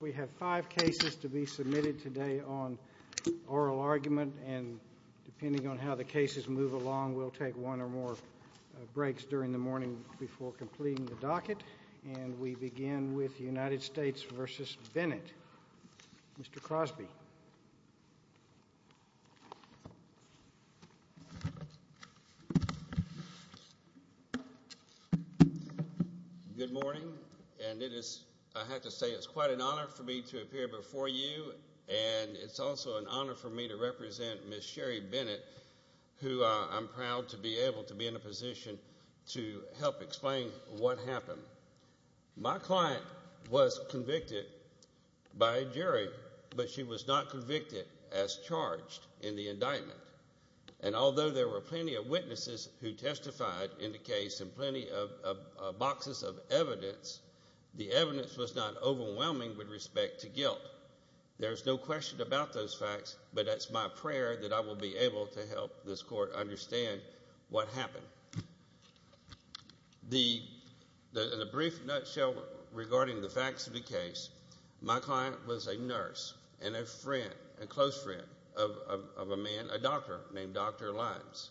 We have five cases to be submitted today on oral argument, and depending on how the cases move along, we'll take one or more breaks during the morning before completing the docket. And we begin with United States v. Bennett. Mr. Crosby. Good morning, and I have to say it's quite an honor for me to appear before you, and it's also an honor for me to represent Ms. Sherrie Bennett, who I'm proud to be able to be in a position to help explain what happened. My client was convicted by a jury, but she was not convicted as charged in the indictment. And although there were plenty of witnesses who testified in the case and plenty of boxes of evidence, the evidence was not overwhelming with respect to guilt. There's no question about those facts, but it's my prayer that I will be able to help this court understand what happened. In a brief nutshell regarding the facts of the case, my client was a nurse and a close friend of a man, a doctor named Dr. Limes.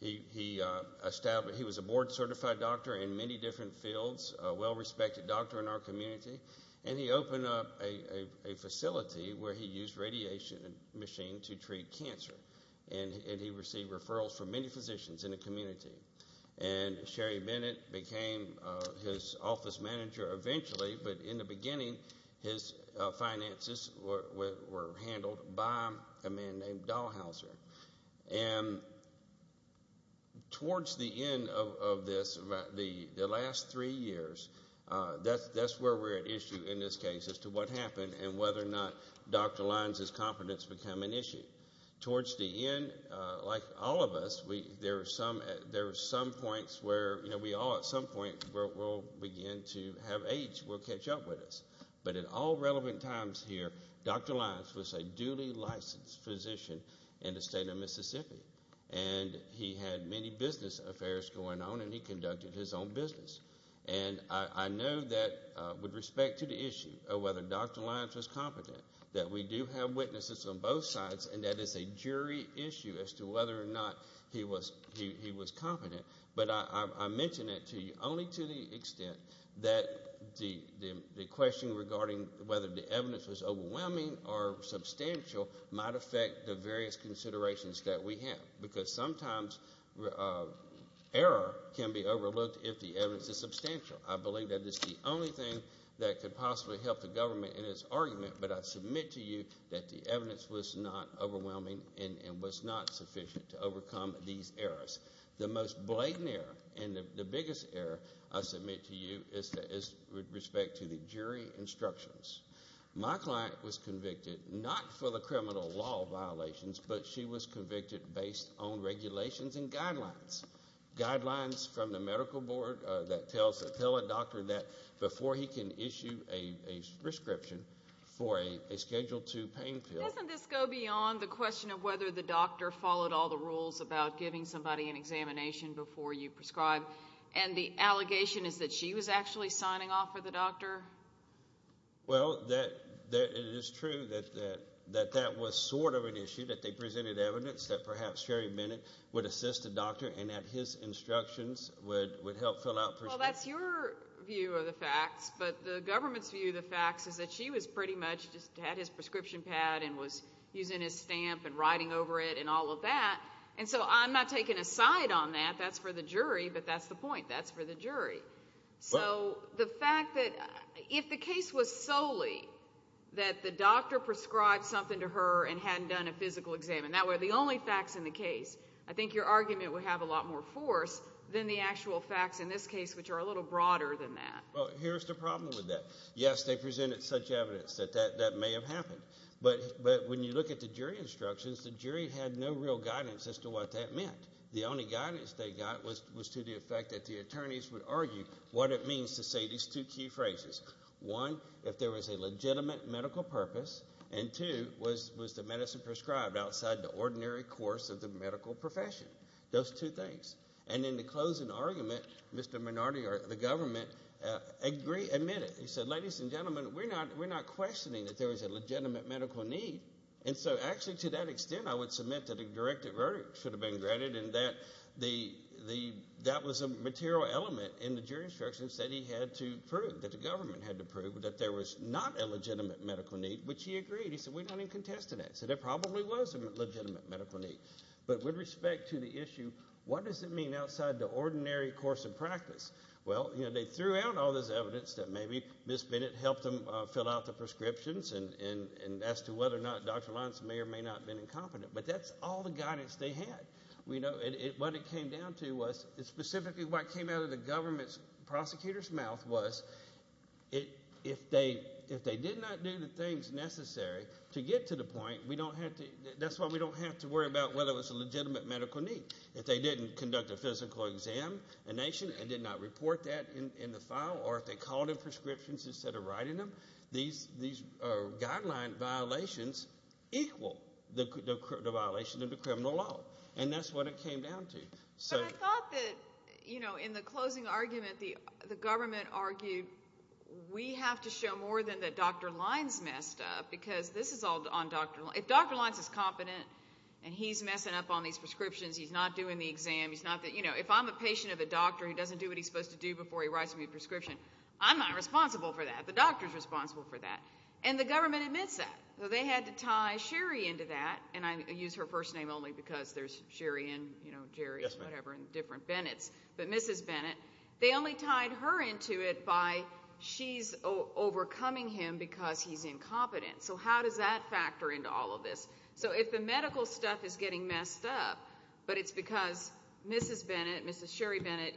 He was a board-certified doctor in many different fields, a well-respected doctor in our community, and he opened up a facility where he used a radiation machine to treat cancer. And he received referrals from many physicians in the community. And Sherrie Bennett became his office manager eventually, but in the beginning, his finances were handled by a man named Dahlhauser. And towards the end of this, the last three years, that's where we're at issue in this case as to what happened and whether or not Dr. Limes' confidence became an issue. Towards the end, like all of us, there are some points where we all at some point will begin to have age will catch up with us. But at all relevant times here, Dr. Limes was a duly licensed physician in the state of Mississippi. And he had many business affairs going on, and he conducted his own business. And I know that with respect to the issue of whether Dr. Limes was competent, that we do have witnesses on both sides, and that is a jury issue as to whether or not he was competent. But I mention it to you only to the extent that the question regarding whether the evidence was overwhelming or substantial might affect the various considerations that we have. Because sometimes error can be overlooked if the evidence is substantial. I believe that it's the only thing that could possibly help the government in its argument, but I submit to you that the evidence was not overwhelming and was not sufficient to overcome these errors. The most blatant error and the biggest error I submit to you is with respect to the jury instructions. My client was convicted not for the criminal law violations, but she was convicted based on regulations and guidelines, guidelines from the medical board that tell a doctor that before he can issue a prescription for a Schedule II pain pill. Doesn't this go beyond the question of whether the doctor followed all the rules about giving somebody an examination before you prescribe? And the allegation is that she was actually signing off for the doctor? Well, it is true that that was sort of an issue, that they presented evidence that perhaps Sherry Bennett would assist the doctor and that his instructions would help fill out prescriptions. Well, that's your view of the facts, but the government's view of the facts is that she was pretty much just had his prescription pad and was using his stamp and writing over it and all of that, and so I'm not taking a side on that. That's for the jury, but that's the point. That's for the jury. So the fact that if the case was solely that the doctor prescribed something to her and hadn't done a physical exam and that were the only facts in the case, I think your argument would have a lot more force than the actual facts in this case, which are a little broader than that. Well, here's the problem with that. Yes, they presented such evidence that that may have happened, but when you look at the jury instructions, the jury had no real guidance as to what that meant. The only guidance they got was to the effect that the attorneys would argue what it means to say these two key phrases. One, if there was a legitimate medical purpose, and two, was the medicine prescribed outside the ordinary course of the medical profession. Those two things. And in the closing argument, Mr. Minardi or the government admitted. He said, ladies and gentlemen, we're not questioning that there was a legitimate medical need, and so actually to that extent I would submit that a directed verdict should have been granted and that was a material element in the jury instructions that he had to prove, that the government had to prove that there was not a legitimate medical need, which he agreed. He said, we don't even contest that. He said there probably was a legitimate medical need. But with respect to the issue, what does it mean outside the ordinary course of practice? Well, they threw out all this evidence that maybe Ms. Bennett helped them fill out the prescriptions and as to whether or not Dr. Lyons may or may not have been incompetent, but that's all the guidance they had. What it came down to was specifically what came out of the government prosecutor's mouth was if they did not do the things necessary to get to the point, that's why we don't have to worry about whether it was a legitimate medical need. If they didn't conduct a physical exam, a nation, and did not report that in the file, or if they called in prescriptions instead of writing them, these guideline violations equal the violation of the criminal law, and that's what it came down to. But I thought that in the closing argument the government argued we have to show more than that Dr. Lyons messed up because this is all on Dr. Lyons. If Dr. Lyons is competent and he's messing up on these prescriptions, he's not doing the exam, if I'm a patient of a doctor who doesn't do what he's supposed to do before he writes me a prescription, I'm not responsible for that. The doctor's responsible for that. And the government admits that. So they had to tie Sherry into that, and I use her first name only because there's Sherry and Jerry and whatever and different Bennetts, but Mrs. Bennett. They only tied her into it by she's overcoming him because he's incompetent. So how does that factor into all of this? So if the medical stuff is getting messed up, but it's because Mrs. Bennett, Mrs. Sherry Bennett,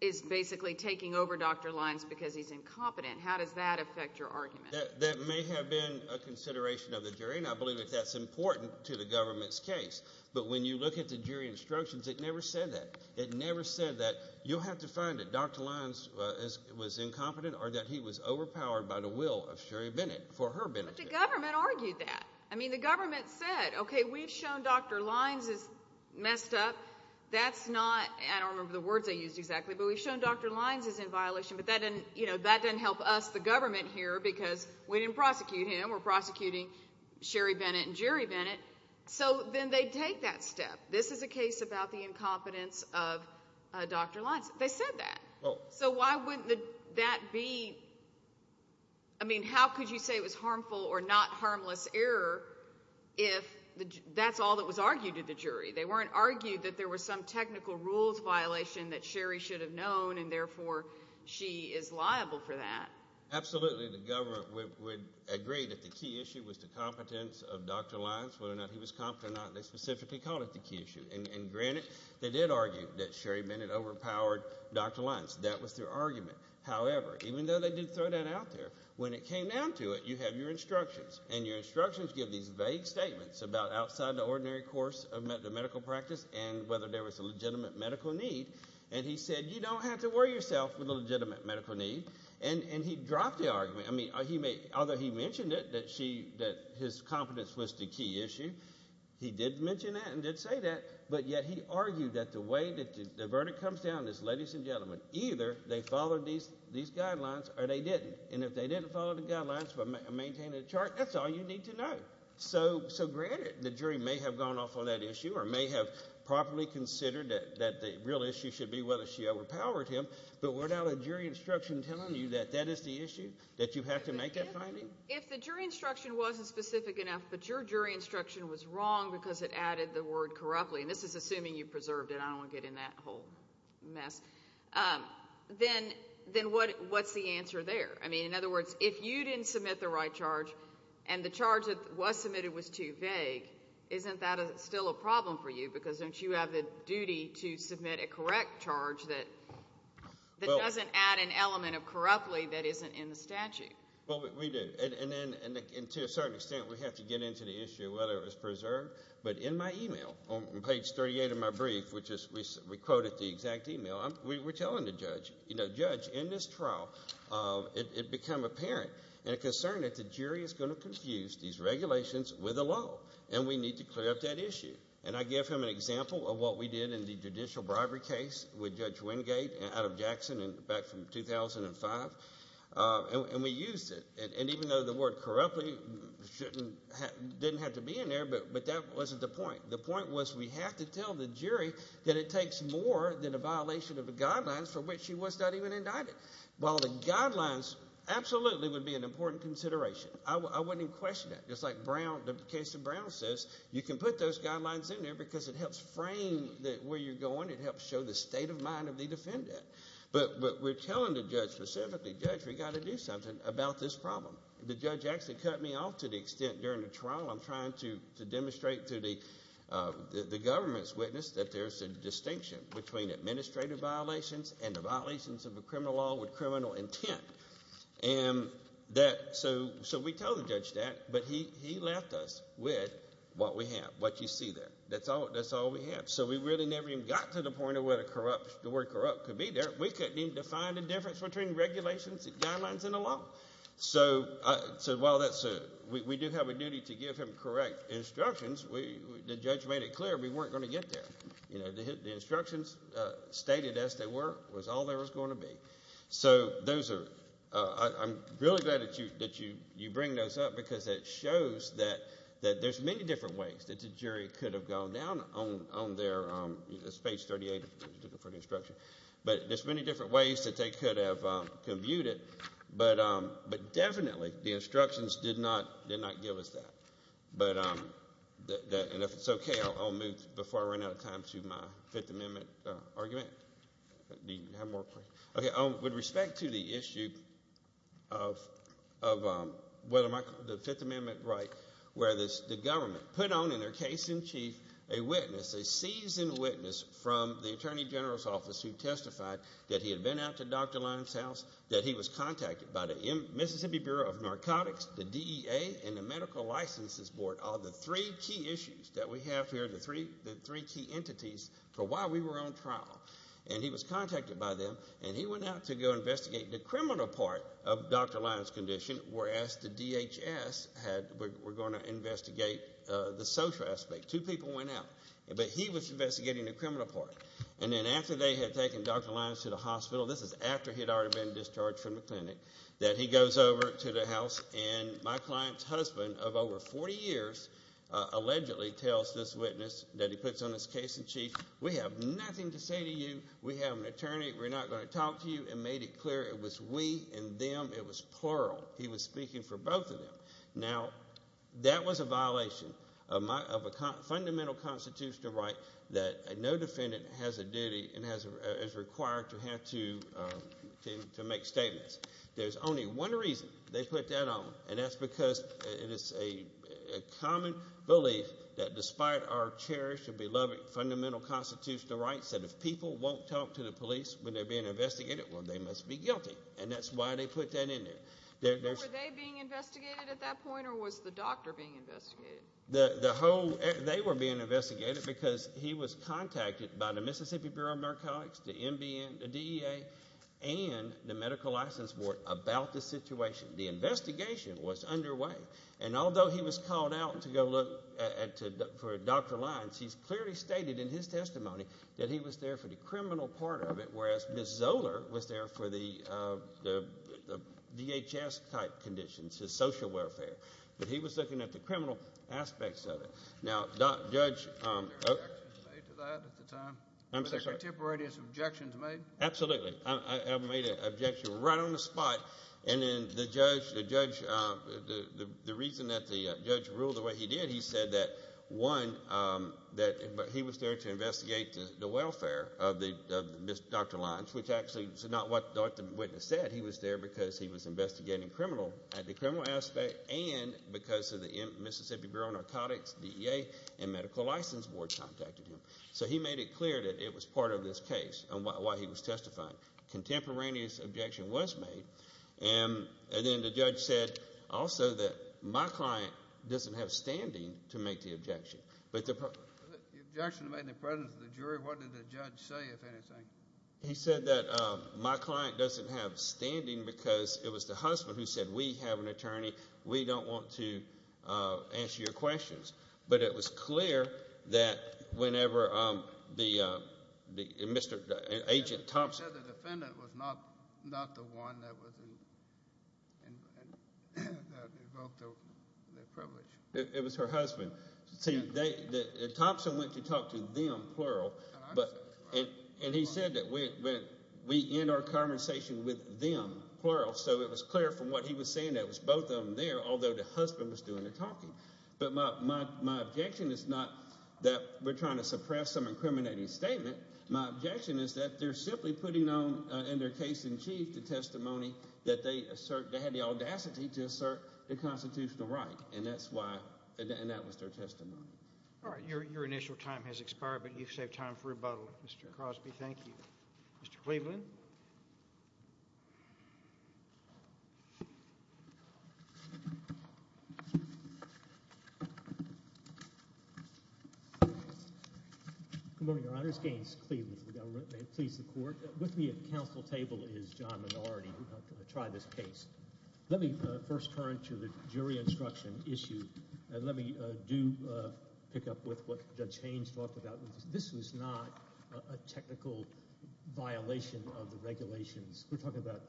is basically taking over Dr. Lyons because he's incompetent, how does that affect your argument? That may have been a consideration of the jury, and I believe that that's important to the government's case. But when you look at the jury instructions, it never said that. It never said that you'll have to find that Dr. Lyons was incompetent or that he was overpowered by the will of Sherry Bennett for her benefit. The government argued that. I mean, the government said, okay, we've shown Dr. Lyons is messed up. That's not, I don't remember the words they used exactly, but we've shown Dr. Lyons is in violation, but that doesn't help us, the government, here because we didn't prosecute him. We're prosecuting Sherry Bennett and Jerry Bennett. So then they take that step. This is a case about the incompetence of Dr. Lyons. They said that. So why wouldn't that be, I mean, how could you say it was harmful or not harmless error if that's all that was argued to the jury? They weren't arguing that there was some technical rules violation that Sherry should have known, and therefore she is liable for that. Absolutely the government would agree that the key issue was the competence of Dr. Lyons, whether or not he was competent or not, they specifically called it the key issue. And granted, they did argue that Sherry Bennett overpowered Dr. Lyons. That was their argument. However, even though they did throw that out there, when it came down to it, you have your instructions, and your instructions give these vague statements about outside the ordinary course of medical practice and whether there was a legitimate medical need, and he said you don't have to worry yourself with a legitimate medical need, and he dropped the argument. I mean, although he mentioned it, that his competence was the key issue, he did mention that and did say that, but yet he argued that the way that the verdict comes down is, ladies and gentlemen, either they followed these guidelines or they didn't. And if they didn't follow the guidelines but maintained a chart, that's all you need to know. So granted, the jury may have gone off on that issue or may have properly considered that the real issue should be whether she overpowered him, but without a jury instruction telling you that that is the issue, that you have to make that finding? If the jury instruction wasn't specific enough but your jury instruction was wrong because it added the word corruptly, and this is assuming you preserved it. I don't want to get in that whole mess. Then what's the answer there? I mean, in other words, if you didn't submit the right charge and the charge that was submitted was too vague, isn't that still a problem for you because don't you have the duty to submit a correct charge that doesn't add an element of corruptly that isn't in the statute? Well, we do. And to a certain extent, we have to get into the issue of whether it was preserved. But in my email, on page 38 of my brief, which we quoted the exact email, we were telling the judge, you know, judge, in this trial, it became apparent and a concern that the jury is going to confuse these regulations with the law and we need to clear up that issue. And I gave him an example of what we did in the judicial bribery case with Judge Wingate out of Jackson back from 2005. And we used it. And even though the word corruptly didn't have to be in there, but that wasn't the point. The point was we have to tell the jury that it takes more than a violation of the guidelines for which she was not even indicted. While the guidelines absolutely would be an important consideration. I wouldn't even question that. Just like the case of Brown says, you can put those guidelines in there because it helps frame where you're going. It helps show the state of mind of the defendant. But we're telling the judge specifically, judge, we've got to do something about this problem. The judge actually cut me off to the extent during the trial I'm trying to demonstrate to the government's witness that there's a distinction between administrative violations and the violations of a criminal law with criminal intent. And so we told the judge that, but he left us with what we have, what you see there. That's all we have. So we really never even got to the point of where the word corrupt could be there. We couldn't even define the difference between regulations and guidelines in the law. So while we do have a duty to give him correct instructions, the judge made it clear we weren't going to get there. The instructions stated as they were was all there was going to be. So I'm really glad that you bring those up because it shows that there's many different ways that the jury could have gone down on their page 38 for the instruction. But there's many different ways that they could have commuted. But definitely the instructions did not give us that. And if it's okay, I'll move before I run out of time to my Fifth Amendment argument. Do you have more questions? Okay, with respect to the issue of whether the Fifth Amendment right, where the government put on in their case in chief a witness, a seasoned witness, from the Attorney General's Office who testified that he had been out to Dr. Lyons' house, that he was contacted by the Mississippi Bureau of Narcotics, the DEA, and the Medical Licenses Board on the three key issues that we have here, the three key entities for why we were on trial. And he was contacted by them, and he went out to go investigate the criminal part of Dr. Lyons' condition, whereas the DHS were going to investigate the social aspect. Two people went out, but he was investigating the criminal part. And then after they had taken Dr. Lyons to the hospital, this is after he had already been discharged from the clinic, that he goes over to the house, and my client's husband of over 40 years allegedly tells this witness that he puts on his case in chief, we have nothing to say to you, we have an attorney, we're not going to talk to you, and made it clear it was we and them. It was plural. He was speaking for both of them. Now, that was a violation of a fundamental constitutional right that no defendant has a duty and is required to have to make statements. There's only one reason they put that on, and that's because it is a common belief that despite our cherished and beloved fundamental constitutional rights that if people won't talk to the police when they're being investigated, well, they must be guilty. And that's why they put that in there. Were they being investigated at that point, or was the doctor being investigated? They were being investigated because he was contacted by the Mississippi Bureau of Narcotics, the DEA, and the Medical License Board about the situation. The investigation was underway. And although he was called out to go look for Dr. Lyons, he's clearly stated in his testimony that he was there for the criminal part of it, whereas Ms. Zoeller was there for the DHS-type conditions, his social welfare. But he was looking at the criminal aspects of it. Now, Judge— Were there objections made to that at the time? I'm sorry? Were there contemporaneous objections made? Absolutely. I made an objection right on the spot. And then the judge, the reason that the judge ruled the way he did, he said that, one, that he was there to investigate the welfare of Dr. Lyons, which actually is not what the witness said. He was there because he was investigating the criminal aspect and because the Mississippi Bureau of Narcotics, DEA, and Medical License Board contacted him. So he made it clear that it was part of this case and why he was testifying. Contemporaneous objection was made. And then the judge said also that my client doesn't have standing to make the objection. But the— Was the objection made in the presence of the jury? What did the judge say, if anything? He said that my client doesn't have standing because it was the husband who said, we have an attorney, we don't want to answer your questions. But it was clear that whenever the—Mr.—Agent Thompson— And that involved the privilege. It was her husband. See, Thompson went to talk to them, plural. And he said that we end our conversation with them, plural. So it was clear from what he was saying that it was both of them there, although the husband was doing the talking. But my objection is not that we're trying to suppress some incriminating statement. My objection is that they're simply putting on, in their case in chief, the testimony that they assert—they had the audacity to assert the constitutional right. And that's why—and that was their testimony. All right, your initial time has expired, but you've saved time for rebuttal. Mr. Crosby, thank you. Mr. Cleveland? Mr. Cleveland? Good morning, Your Honors. Gaines Cleveland for the government. May it please the Court. With me at the counsel table is John Minority, who tried this case. Let me first turn to the jury instruction issue. And let me do pick up with what Judge Haynes talked about. This was not a technical violation of the regulations. We're talking about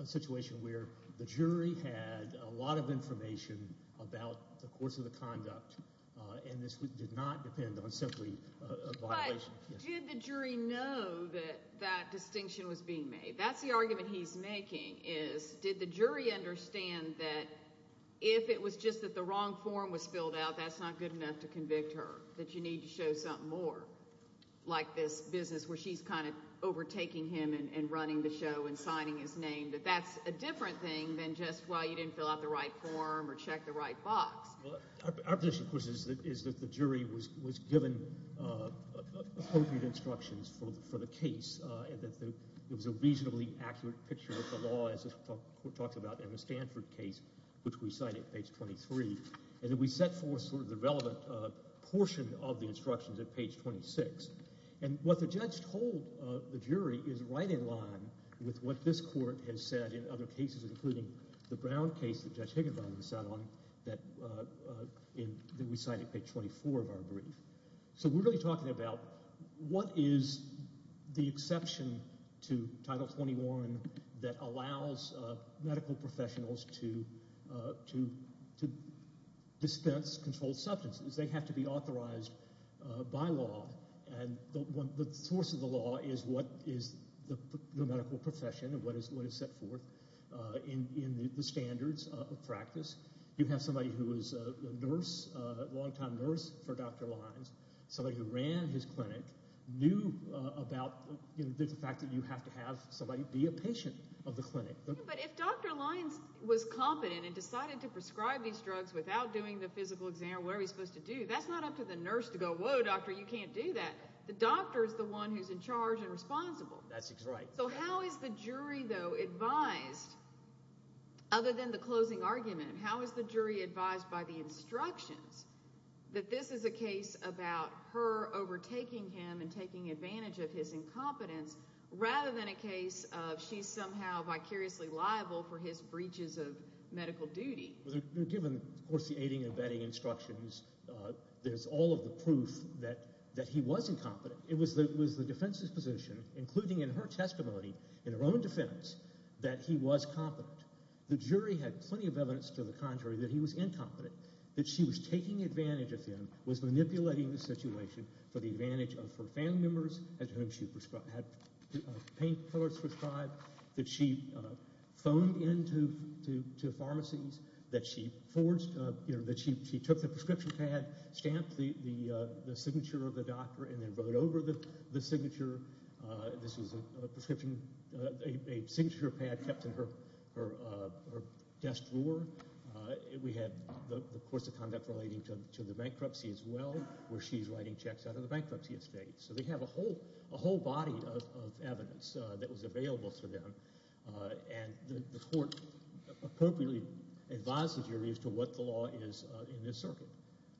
a situation where the jury had a lot of information about the course of the conduct, and this did not depend on simply a violation. But did the jury know that that distinction was being made? That's the argument he's making, is did the jury understand that if it was just that the wrong form was filled out, that's not good enough to convict her, that you need to show something more, like this business where she's kind of overtaking him and running the show and signing his name, that that's a different thing than just why you didn't fill out the right form or check the right box. Our position, of course, is that the jury was given appropriate instructions for the case, and that there was a reasonably accurate picture of the law, as the Court talks about in the Stanford case, which we cite at page 23. And we set forth sort of the relevant portion of the instructions at page 26. And what the judge told the jury is right in line with what this Court has said in other cases, including the Brown case that Judge Higginbottom sat on that we cite at page 24 of our brief. So we're really talking about what is the exception to Title 21 that allows medical professionals to dispense controlled substances. They have to be authorized by law, and the source of the law is what is the medical profession and what is set forth in the standards of practice. You have somebody who was a long-time nurse for Dr. Lyons, somebody who ran his clinic, knew about the fact that you have to have somebody be a patient of the clinic. But if Dr. Lyons was competent and decided to prescribe these drugs without doing the physical exam, what are we supposed to do? That's not up to the nurse to go, whoa, doctor, you can't do that. The doctor is the one who's in charge and responsible. That's right. So how is the jury, though, advised, other than the closing argument, how is the jury advised by the instructions that this is a case about her overtaking him and taking advantage of his incompetence rather than a case of she's somehow vicariously liable for his breaches of medical duty? Given, of course, the aiding and abetting instructions, there's all of the proof that he was incompetent. It was the defense's position, including in her testimony in her own defense, that he was competent. The jury had plenty of evidence to the contrary that he was incompetent, that she was taking advantage of him, was manipulating the situation for the advantage of her family members, at whom she had pain killers prescribed, that she phoned into pharmacies, that she took the prescription pad, stamped the signature of the doctor, and then wrote over the signature. This was a prescription, a signature pad kept in her desk drawer. We had the course of conduct relating to the bankruptcy as well, where she's writing checks out of the bankruptcy estate. So they have a whole body of evidence that was available to them, and the court appropriately advised the jury as to what the law is in this circuit.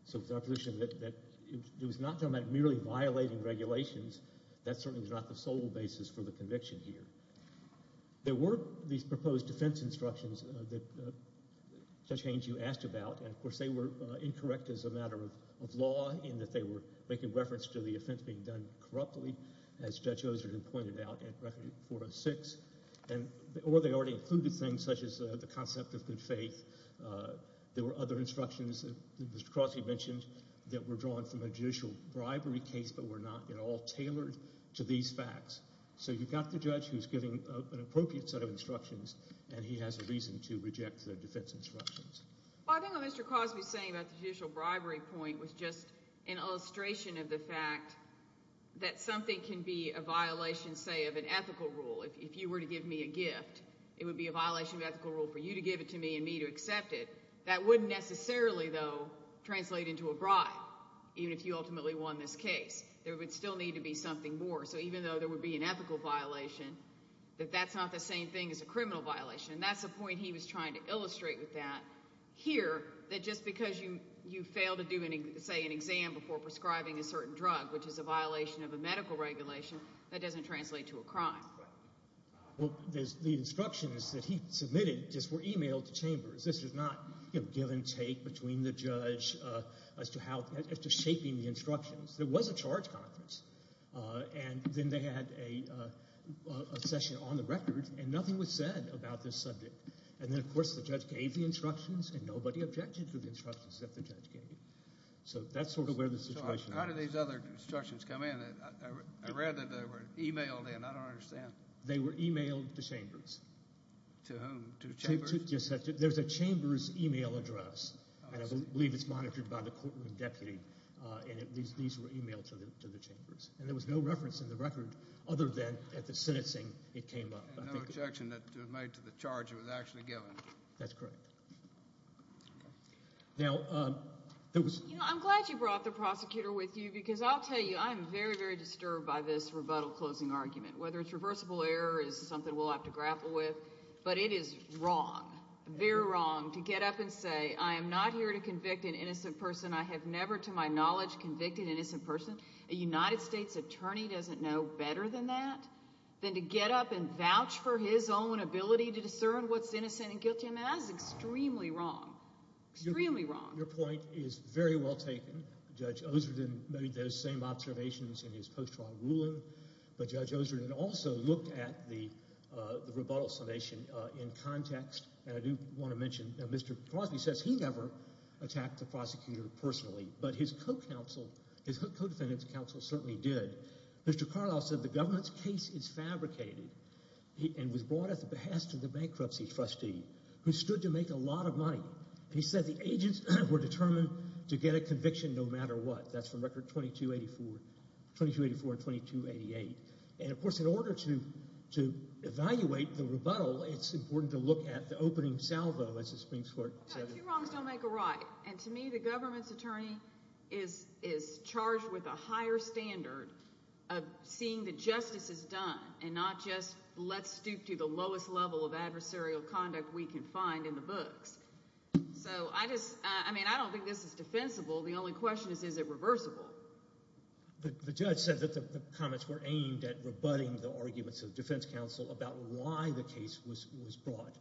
So it's our position that it was not talking about merely violating regulations. That certainly was not the sole basis for the conviction here. There were these proposed defense instructions that Judge Haynes, you asked about, and of course they were incorrect as a matter of law in that they were making reference to the offense being done corruptly, as Judge Osler had pointed out at Record 406, or they already included things such as the concept of good faith. There were other instructions that Mr. Crosby mentioned that were drawn from a judicial bribery case but were not at all tailored to these facts. So you've got the judge who's giving an appropriate set of instructions, and he has a reason to reject the defense instructions. Well, I think what Mr. Crosby is saying about the judicial bribery point was just an illustration of the fact that something can be a violation, say, of an ethical rule. If you were to give me a gift, it would be a violation of ethical rule for you to give it to me and me to accept it. That wouldn't necessarily, though, translate into a bribe, even if you ultimately won this case. There would still need to be something more. So even though there would be an ethical violation, that that's not the same thing as a criminal violation. That's the point he was trying to illustrate with that here, that just because you fail to do, say, an exam before prescribing a certain drug, which is a violation of a medical regulation, that doesn't translate to a crime. Well, the instructions that he submitted just were emailed to chambers. This was not give and take between the judge as to shaping the instructions. There was a charge conference, and then they had a session on the record, and nothing was said about this subject. And then, of course, the judge gave the instructions, and nobody objected to the instructions that the judge gave. So that's sort of where the situation was. How did these other instructions come in? I read that they were emailed in. I don't understand. They were emailed to chambers. To whom? To chambers? There's a chambers email address, and I believe it's monitored by the courtroom deputy, and these were emailed to the chambers. And there was no reference in the record other than at the sentencing it came up. And no objection made to the charge it was actually given. That's correct. Now, there was— You know, I'm glad you brought the prosecutor with you, because I'll tell you I'm very, very disturbed by this rebuttal closing argument. Whether it's reversible error is something we'll have to grapple with, but it is wrong, very wrong, to get up and say, I am not here to convict an innocent person. I have never, to my knowledge, convicted an innocent person. A United States attorney doesn't know better than that, than to get up and vouch for his own ability to discern what's innocent and guilty. I mean, that is extremely wrong, extremely wrong. Your point is very well taken. Judge Osreden made those same observations in his post-trial ruling, but Judge Osreden also looked at the rebuttal summation in context, and I do want to mention Mr. Crosby says he never attacked the prosecutor personally, but his co-counsel, his co-defendant's counsel certainly did. Mr. Carlisle said the government's case is fabricated and was brought at the behest of the bankruptcy trustee, who stood to make a lot of money. He said the agents were determined to get a conviction no matter what. That's from Record 2284 and 2288. And, of course, in order to evaluate the rebuttal, it's important to look at the opening salvo, as the Supreme Court said. No, two wrongs don't make a right, and to me the government's attorney is charged with a higher standard of seeing that justice is done and not just let's stoop to the lowest level of adversarial conduct we can find in the books. So I just, I mean, I don't think this is defensible. The only question is, is it reversible? The judge said that the comments were aimed at rebutting the arguments of defense counsel about why the case was brought.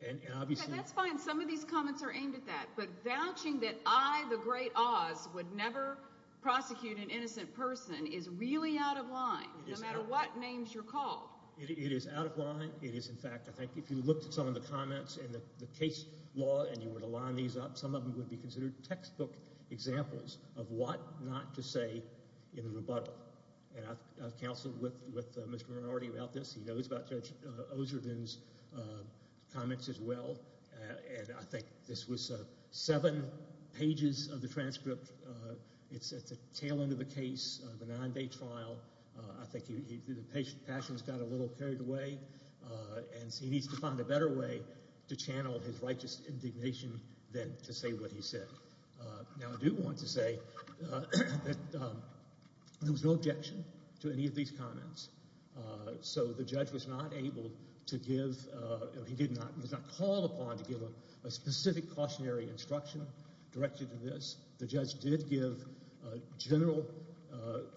Okay, that's fine. Some of these comments are aimed at that, but vouching that I, the great Oz, would never prosecute an innocent person is really out of line, no matter what names you're called. It is out of line. It is, in fact, I think if you looked at some of the comments in the case law and you were to line these up, some of them would be considered textbook examples of what not to say in a rebuttal. And I've counseled with Mr. Minority about this. He knows about Judge Ozerden's comments as well. And I think this was seven pages of the transcript. It's at the tail end of the case, the nine-day trial. I think the passion's got a little carried away, and he needs to find a better way to channel his righteous indignation than to say what he said. Now, I do want to say that there was no objection to any of these comments. So the judge was not able to give, he did not, he was not called upon to give a specific cautionary instruction directed to this. The judge did give general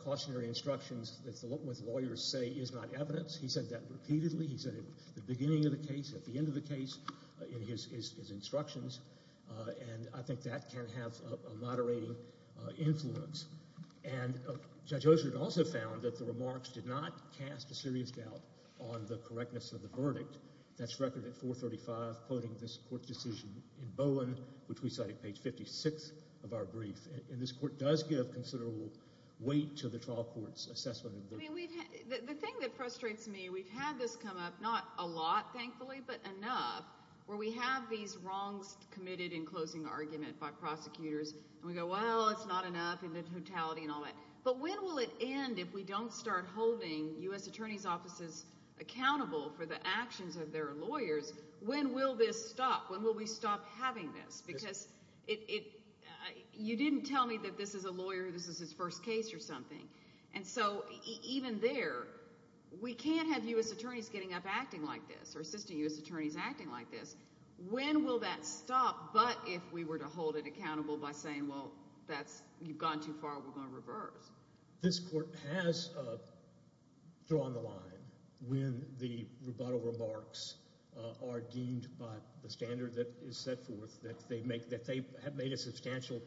cautionary instructions that what lawyers say is not evidence. He said that repeatedly. He said it at the beginning of the case, at the end of the case in his instructions, and I think that can have a moderating influence. And Judge Ozerden also found that the remarks did not cast a serious doubt on the correctness of the verdict. That's recorded at 435, quoting this court decision in Bowen, which we cite at page 56 of our brief. And this court does give considerable weight to the trial court's assessment. The thing that frustrates me, we've had this come up not a lot, thankfully, but enough, where we have these wrongs committed in closing argument by prosecutors, and we go, well, it's not enough in the totality and all that. But when will it end if we don't start holding U.S. attorneys' offices accountable for the actions of their lawyers? When will this stop? When will we stop having this? Because you didn't tell me that this is a lawyer, this is his first case or something. And so even there, we can't have U.S. attorneys getting up acting like this or assistant U.S. attorneys acting like this. When will that stop but if we were to hold it accountable by saying, well, you've gone too far, we're going to reverse? This court has drawn the line when the rebuttal remarks are deemed by the standard that is set forth that they have made a substantial,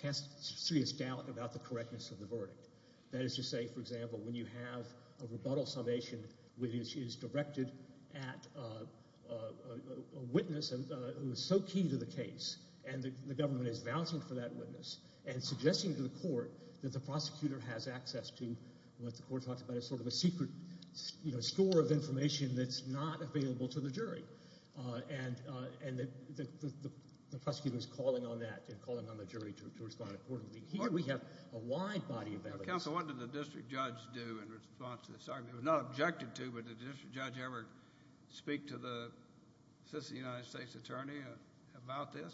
cast serious doubt about the correctness of the verdict. That is to say, for example, when you have a rebuttal summation which is directed at a witness who is so key to the case and the government is vouching for that witness and suggesting to the court that the prosecutor has access to what the court talks about as sort of a secret store of information that's not available to the jury. And the prosecutor is calling on that and calling on the jury to respond accordingly. Here we have a wide body of evidence. Counsel, what did the district judge do in response to this argument? He was not objected to, but did the district judge ever speak to the assistant United States attorney about this?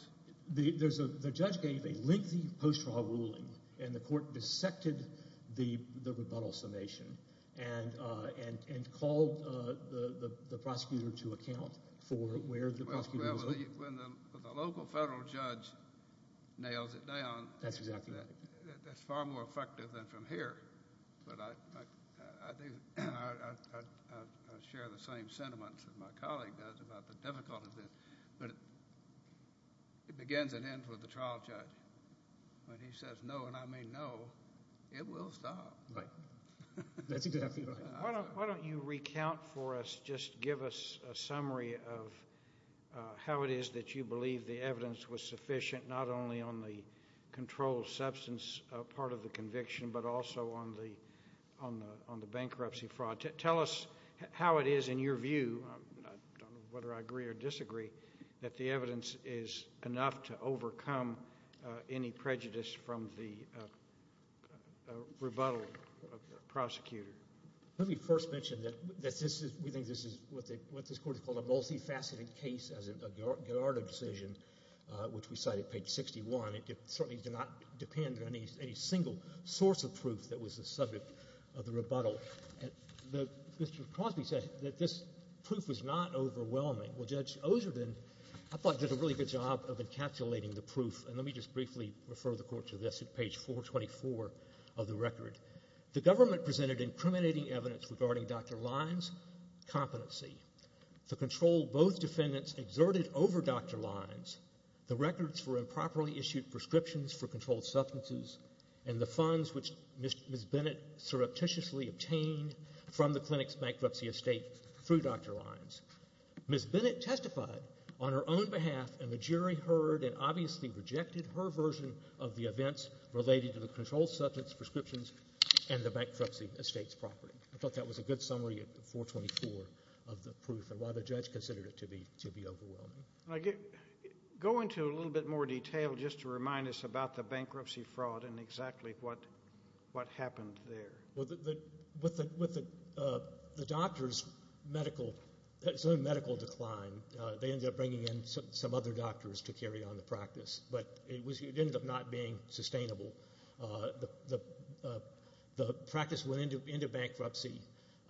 The judge gave a lengthy post-trial ruling and the court dissected the rebuttal summation and called the prosecutor to account for where the prosecutor was at. Well, when the local federal judge nails it down, that's far more effective than from here. But I share the same sentiments that my colleague does about the difficulty of this. But it begins and ends with the trial judge. When he says no, and I mean no, it will stop. That's exactly right. Why don't you recount for us, just give us a summary of how it is that you believe the evidence was sufficient, not only on the controlled substance part of the conviction, but also on the bankruptcy fraud. Tell us how it is in your view, whether I agree or disagree, that the evidence is enough to overcome any prejudice from the rebuttal prosecutor. Let me first mention that we think this is what this Court has called a multifaceted case as a Gallardo decision, which we cite at page 61. It certainly did not depend on any single source of proof that was the subject of the rebuttal. Mr. Crosby said that this proof was not overwhelming. Well, Judge Ozerden, I thought, did a really good job of encapsulating the proof, and let me just briefly refer the Court to this at page 424 of the record. The government presented incriminating evidence regarding Dr. Lyons' competency to control both defendants exerted over Dr. Lyons. The records were improperly issued prescriptions for controlled substances and the funds which Ms. Bennett surreptitiously obtained from the clinic's bankruptcy estate through Dr. Lyons. Ms. Bennett testified on her own behalf, and the jury heard and obviously rejected her version of the events related to the controlled substance prescriptions and the bankruptcy estate's property. I thought that was a good summary at 424 of the proof and why the judge considered it to be overwhelming. Go into a little bit more detail just to remind us about the bankruptcy fraud and exactly what happened there. With the doctor's medical decline, they ended up bringing in some other doctors to carry on the practice, but it ended up not being sustainable. The practice went into bankruptcy,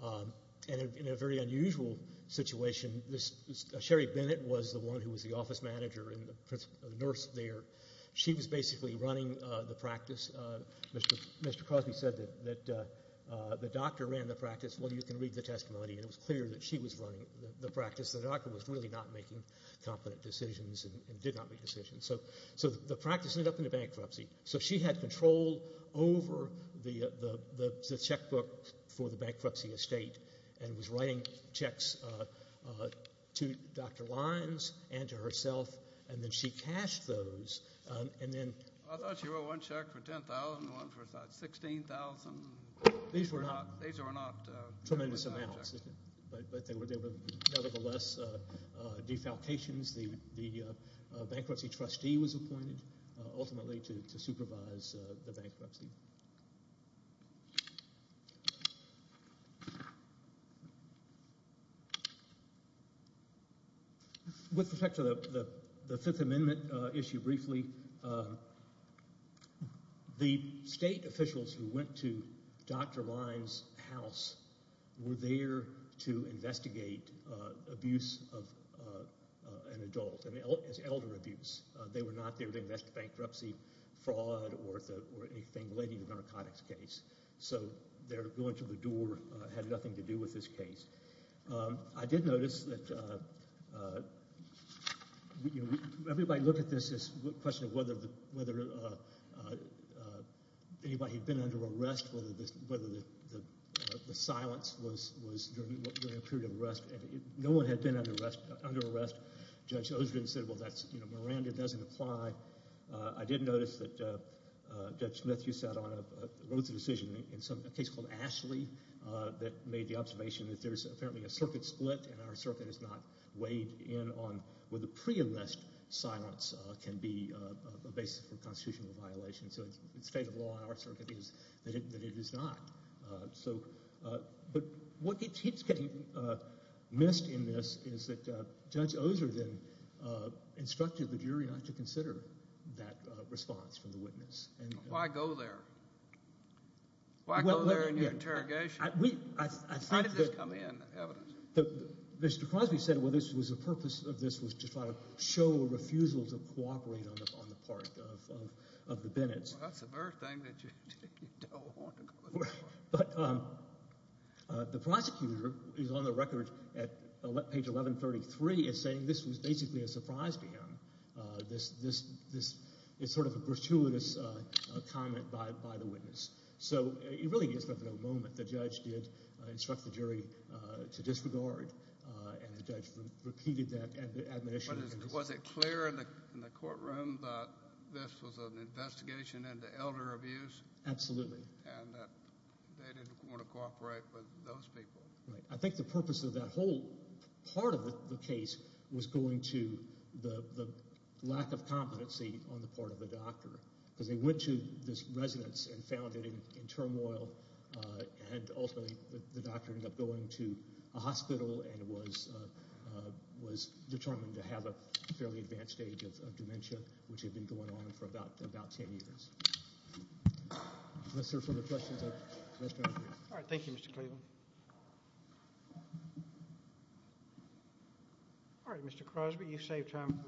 and in a very unusual situation, Sherry Bennett was the one who was the office manager and the nurse there. She was basically running the practice. Mr. Cosby said that the doctor ran the practice. Well, you can read the testimony, and it was clear that she was running the practice. The doctor was really not making competent decisions and did not make decisions. So the practice ended up in a bankruptcy. So she had control over the checkbook for the bankruptcy estate and was writing checks to Dr. Lyons and to herself, and then she cashed those. I thought she wrote one check for $10,000 and one for $16,000. These were not tremendous amounts, but they were nevertheless defalcations. The bankruptcy trustee was appointed ultimately to supervise the bankruptcy. Thank you. With respect to the Fifth Amendment issue briefly, the state officials who went to Dr. Lyons' house were there to investigate abuse of an adult, as elder abuse. They were not there to investigate bankruptcy, fraud, or anything related to the narcotics case. So their going to the door had nothing to do with this case. I did notice that everybody looked at this as a question of whether anybody had been under arrest, and no one had been under arrest. Judge Osgren said, well, Miranda doesn't apply. I did notice that Judge Smith, you wrote the decision in a case called Ashley that made the observation that there's apparently a circuit split and our circuit is not weighed in on whether pre-enlist silence can be a basis for constitutional violation. So the state of law in our circuit is that it is not. But what keeps getting missed in this is that Judge Osgren instructed the jury not to consider that response from the witness. Why go there? Why go there in your interrogation? How did this come in, the evidence? Mr. Crosby said, well, the purpose of this was to try to show a refusal to cooperate on the part of the Bennett's. Well, that's a very thing that you don't want to go there for. But the prosecutor is on the record at page 1133 as saying this was basically a surprise to him. This is sort of a gratuitous comment by the witness. So it really is but for the moment. The judge did instruct the jury to disregard, and the judge repeated that admonition. Was it clear in the courtroom that this was an investigation into elder abuse? Absolutely. And that they didn't want to cooperate with those people. Right. I think the purpose of that whole part of the case was going to the lack of competency on the part of the doctor and ultimately the doctor ended up going to a hospital and was determined to have a fairly advanced stage of dementia, which had been going on for about ten years. Sir, further questions? All right. Thank you, Mr. Cleveland. All right, Mr. Crosby, you saved time.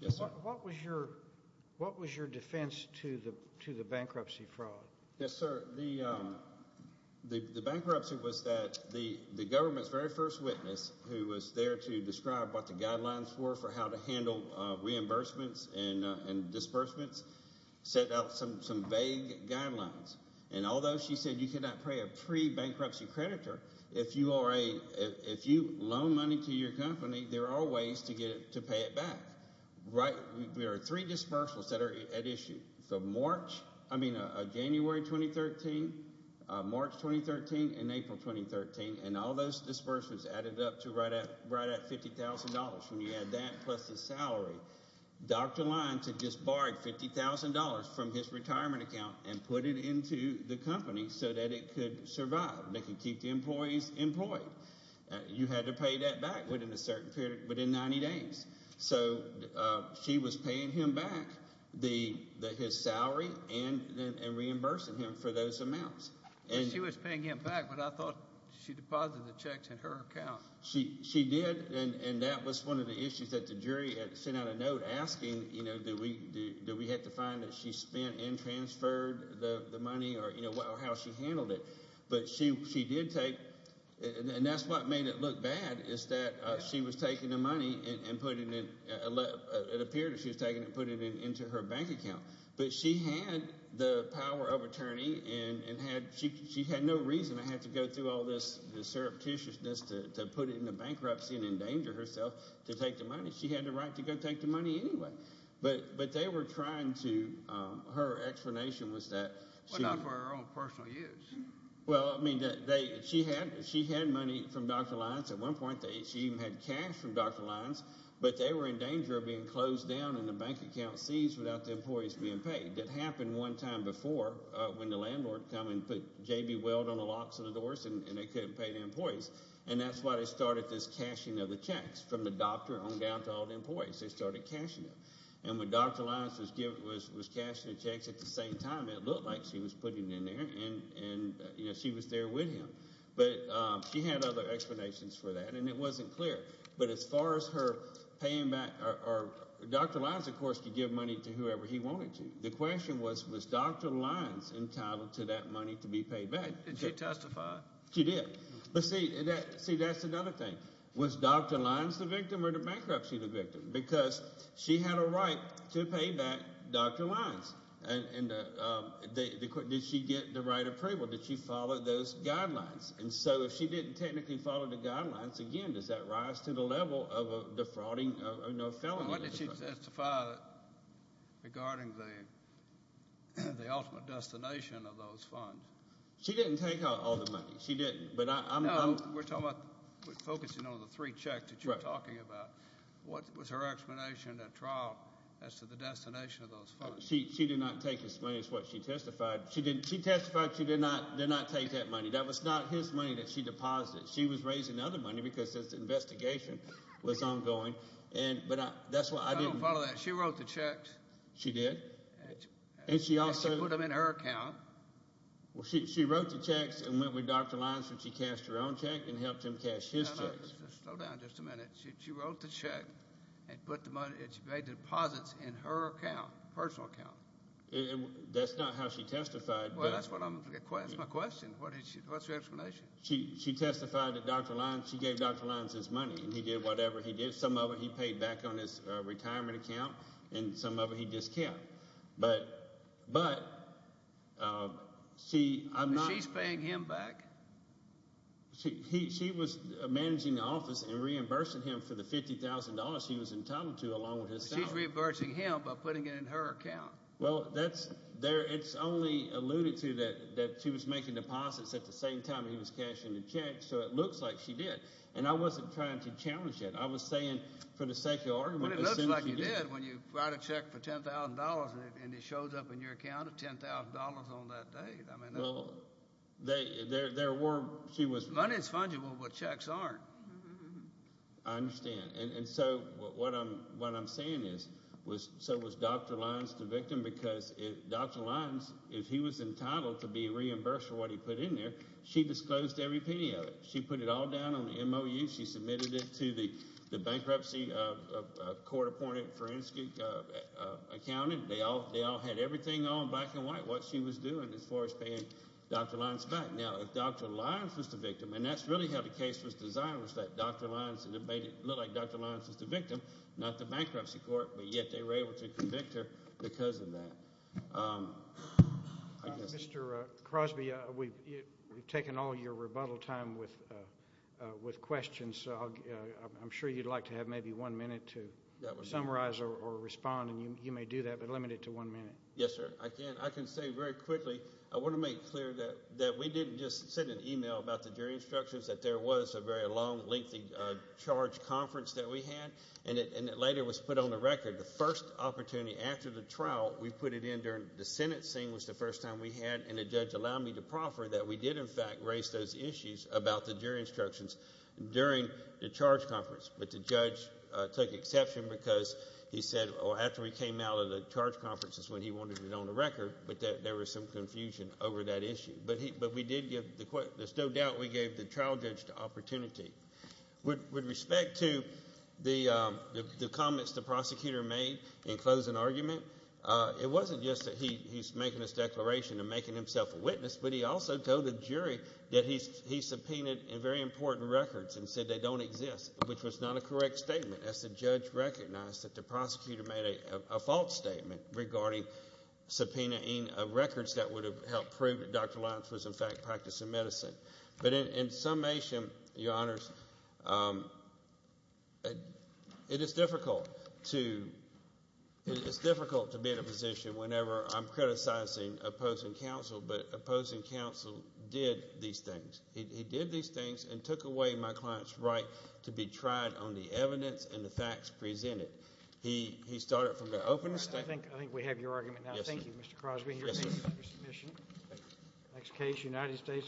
Yes, sir. What was your defense to the bankruptcy fraud? Yes, sir. The bankruptcy was that the government's very first witness, who was there to describe what the guidelines were for how to handle reimbursements and disbursements, set out some vague guidelines. And although she said you cannot pay a pre-bankruptcy creditor, if you loan money to your company, there are ways to pay it back. There are three dispersals that are at issue. So March, I mean January 2013, March 2013, and April 2013, and all those disbursements added up to right at $50,000 when you add that plus the salary. Dr. Lyons had just borrowed $50,000 from his retirement account and put it into the company so that it could survive. They could keep the employees employed. You had to pay that back within a certain period, within 90 days. So she was paying him back his salary and reimbursing him for those amounts. She was paying him back, but I thought she deposited the checks in her account. She did, and that was one of the issues that the jury sent out a note asking, do we have to find that she spent and transferred the money or how she handled it. But she did take, and that's what made it look bad, is that she was taking the money and putting it, it appeared as if she was taking it and putting it into her bank account. But she had the power of attorney and she had no reason to have to go through all this surreptitiousness to put it into bankruptcy and endanger herself to take the money. She had the right to go take the money anyway. But they were trying to, her explanation was that she— Well, I mean, she had money from Dr. Lyons at one point. She even had cash from Dr. Lyons, but they were in danger of being closed down and the bank account seized without the employees being paid. It happened one time before when the landlord came and put JB Weld on the locks of the doors and they couldn't pay the employees. And that's why they started this cashing of the checks from the doctor on down to all the employees. They started cashing them. And when Dr. Lyons was cashing the checks at the same time, it looked like she was putting them in there. And she was there with him. But she had other explanations for that, and it wasn't clear. But as far as her paying back—Dr. Lyons, of course, could give money to whoever he wanted to. The question was, was Dr. Lyons entitled to that money to be paid back? Did she testify? She did. But see, that's another thing. Was Dr. Lyons the victim or the bankruptcy the victim? Because she had a right to pay back Dr. Lyons. And did she get the right approval? Did she follow those guidelines? And so if she didn't technically follow the guidelines, again, does that rise to the level of defrauding or no felony? What did she testify regarding the ultimate destination of those funds? She didn't take all the money. She didn't, but I'm— No, we're talking about focusing on the three checks that you're talking about. What was her explanation at trial as to the destination of those funds? She did not take his money is what she testified. She testified she did not take that money. That was not his money that she deposited. She was raising other money because this investigation was ongoing. But that's why I didn't— I don't follow that. She wrote the checks. She did. And she also— And she put them in her account. Well, she wrote the checks and went with Dr. Lyons, and she cashed her own check and helped him cash his checks. Slow down just a minute. She wrote the check and put the money—she made deposits in her account, personal account. That's not how she testified. Well, that's what I'm—that's my question. What's your explanation? She testified that Dr. Lyons—she gave Dr. Lyons his money, and he did whatever he did. Some of it he paid back on his retirement account, and some of it he discounted. But she— She's paying him back? She was managing the office and reimbursing him for the $50,000 she was entitled to along with his salary. She's reimbursing him by putting it in her account. Well, that's—it's only alluded to that she was making deposits at the same time he was cashing the checks, so it looks like she did. And I wasn't trying to challenge that. I was saying for the sake of argument— Well, it looks like you did when you write a check for $10,000 and it shows up in your account at $10,000 on that day. Well, there were—she was— Money is fungible, but checks aren't. I understand. And so what I'm saying is, so was Dr. Lyons the victim? Because Dr. Lyons, if he was entitled to be reimbursed for what he put in there, she disclosed every penny of it. She put it all down on the MOU. She submitted it to the bankruptcy court-appointed forensic accountant. They all had everything on, black and white, what she was doing as far as paying Dr. Lyons back. Now, if Dr. Lyons was the victim, and that's really how the case was designed, was that Dr. Lyons made it look like Dr. Lyons was the victim, not the bankruptcy court. But yet they were able to convict her because of that. Mr. Crosby, we've taken all your rebuttal time with questions, so I'm sure you'd like to have maybe one minute to summarize or respond, and you may do that. But limit it to one minute. Yes, sir. I can say very quickly, I want to make clear that we didn't just send an e-mail about the jury instructions, that there was a very long, lengthy charge conference that we had, and it later was put on the record. The first opportunity after the trial, we put it in during the Senate scene was the first time we had, and the judge allowed me to proffer that we did, in fact, raise those issues about the jury instructions during the charge conference. But the judge took exception because he said, well, after we came out of the charge conference is when he wanted it on the record, but there was some confusion over that issue. But we did give the – there's no doubt we gave the trial judge the opportunity. With respect to the comments the prosecutor made in closing argument, it wasn't just that he's making this declaration and making himself a witness, but he also told the jury that he subpoenaed very important records and said they don't exist, which was not a correct statement. As the judge recognized that the prosecutor made a false statement regarding subpoenaing of records that would have helped prove that Dr. Lyons was, in fact, practicing medicine. But in summation, Your Honors, it is difficult to be in a position whenever I'm criticizing opposing counsel but opposing counsel did these things. He did these things and took away my client's right to be tried on the evidence and the facts presented. He started from the opening statement. I think we have your argument now. Yes, sir. Thank you, Mr. Crosby. Yes, sir. Thank you for your submission. Thank you.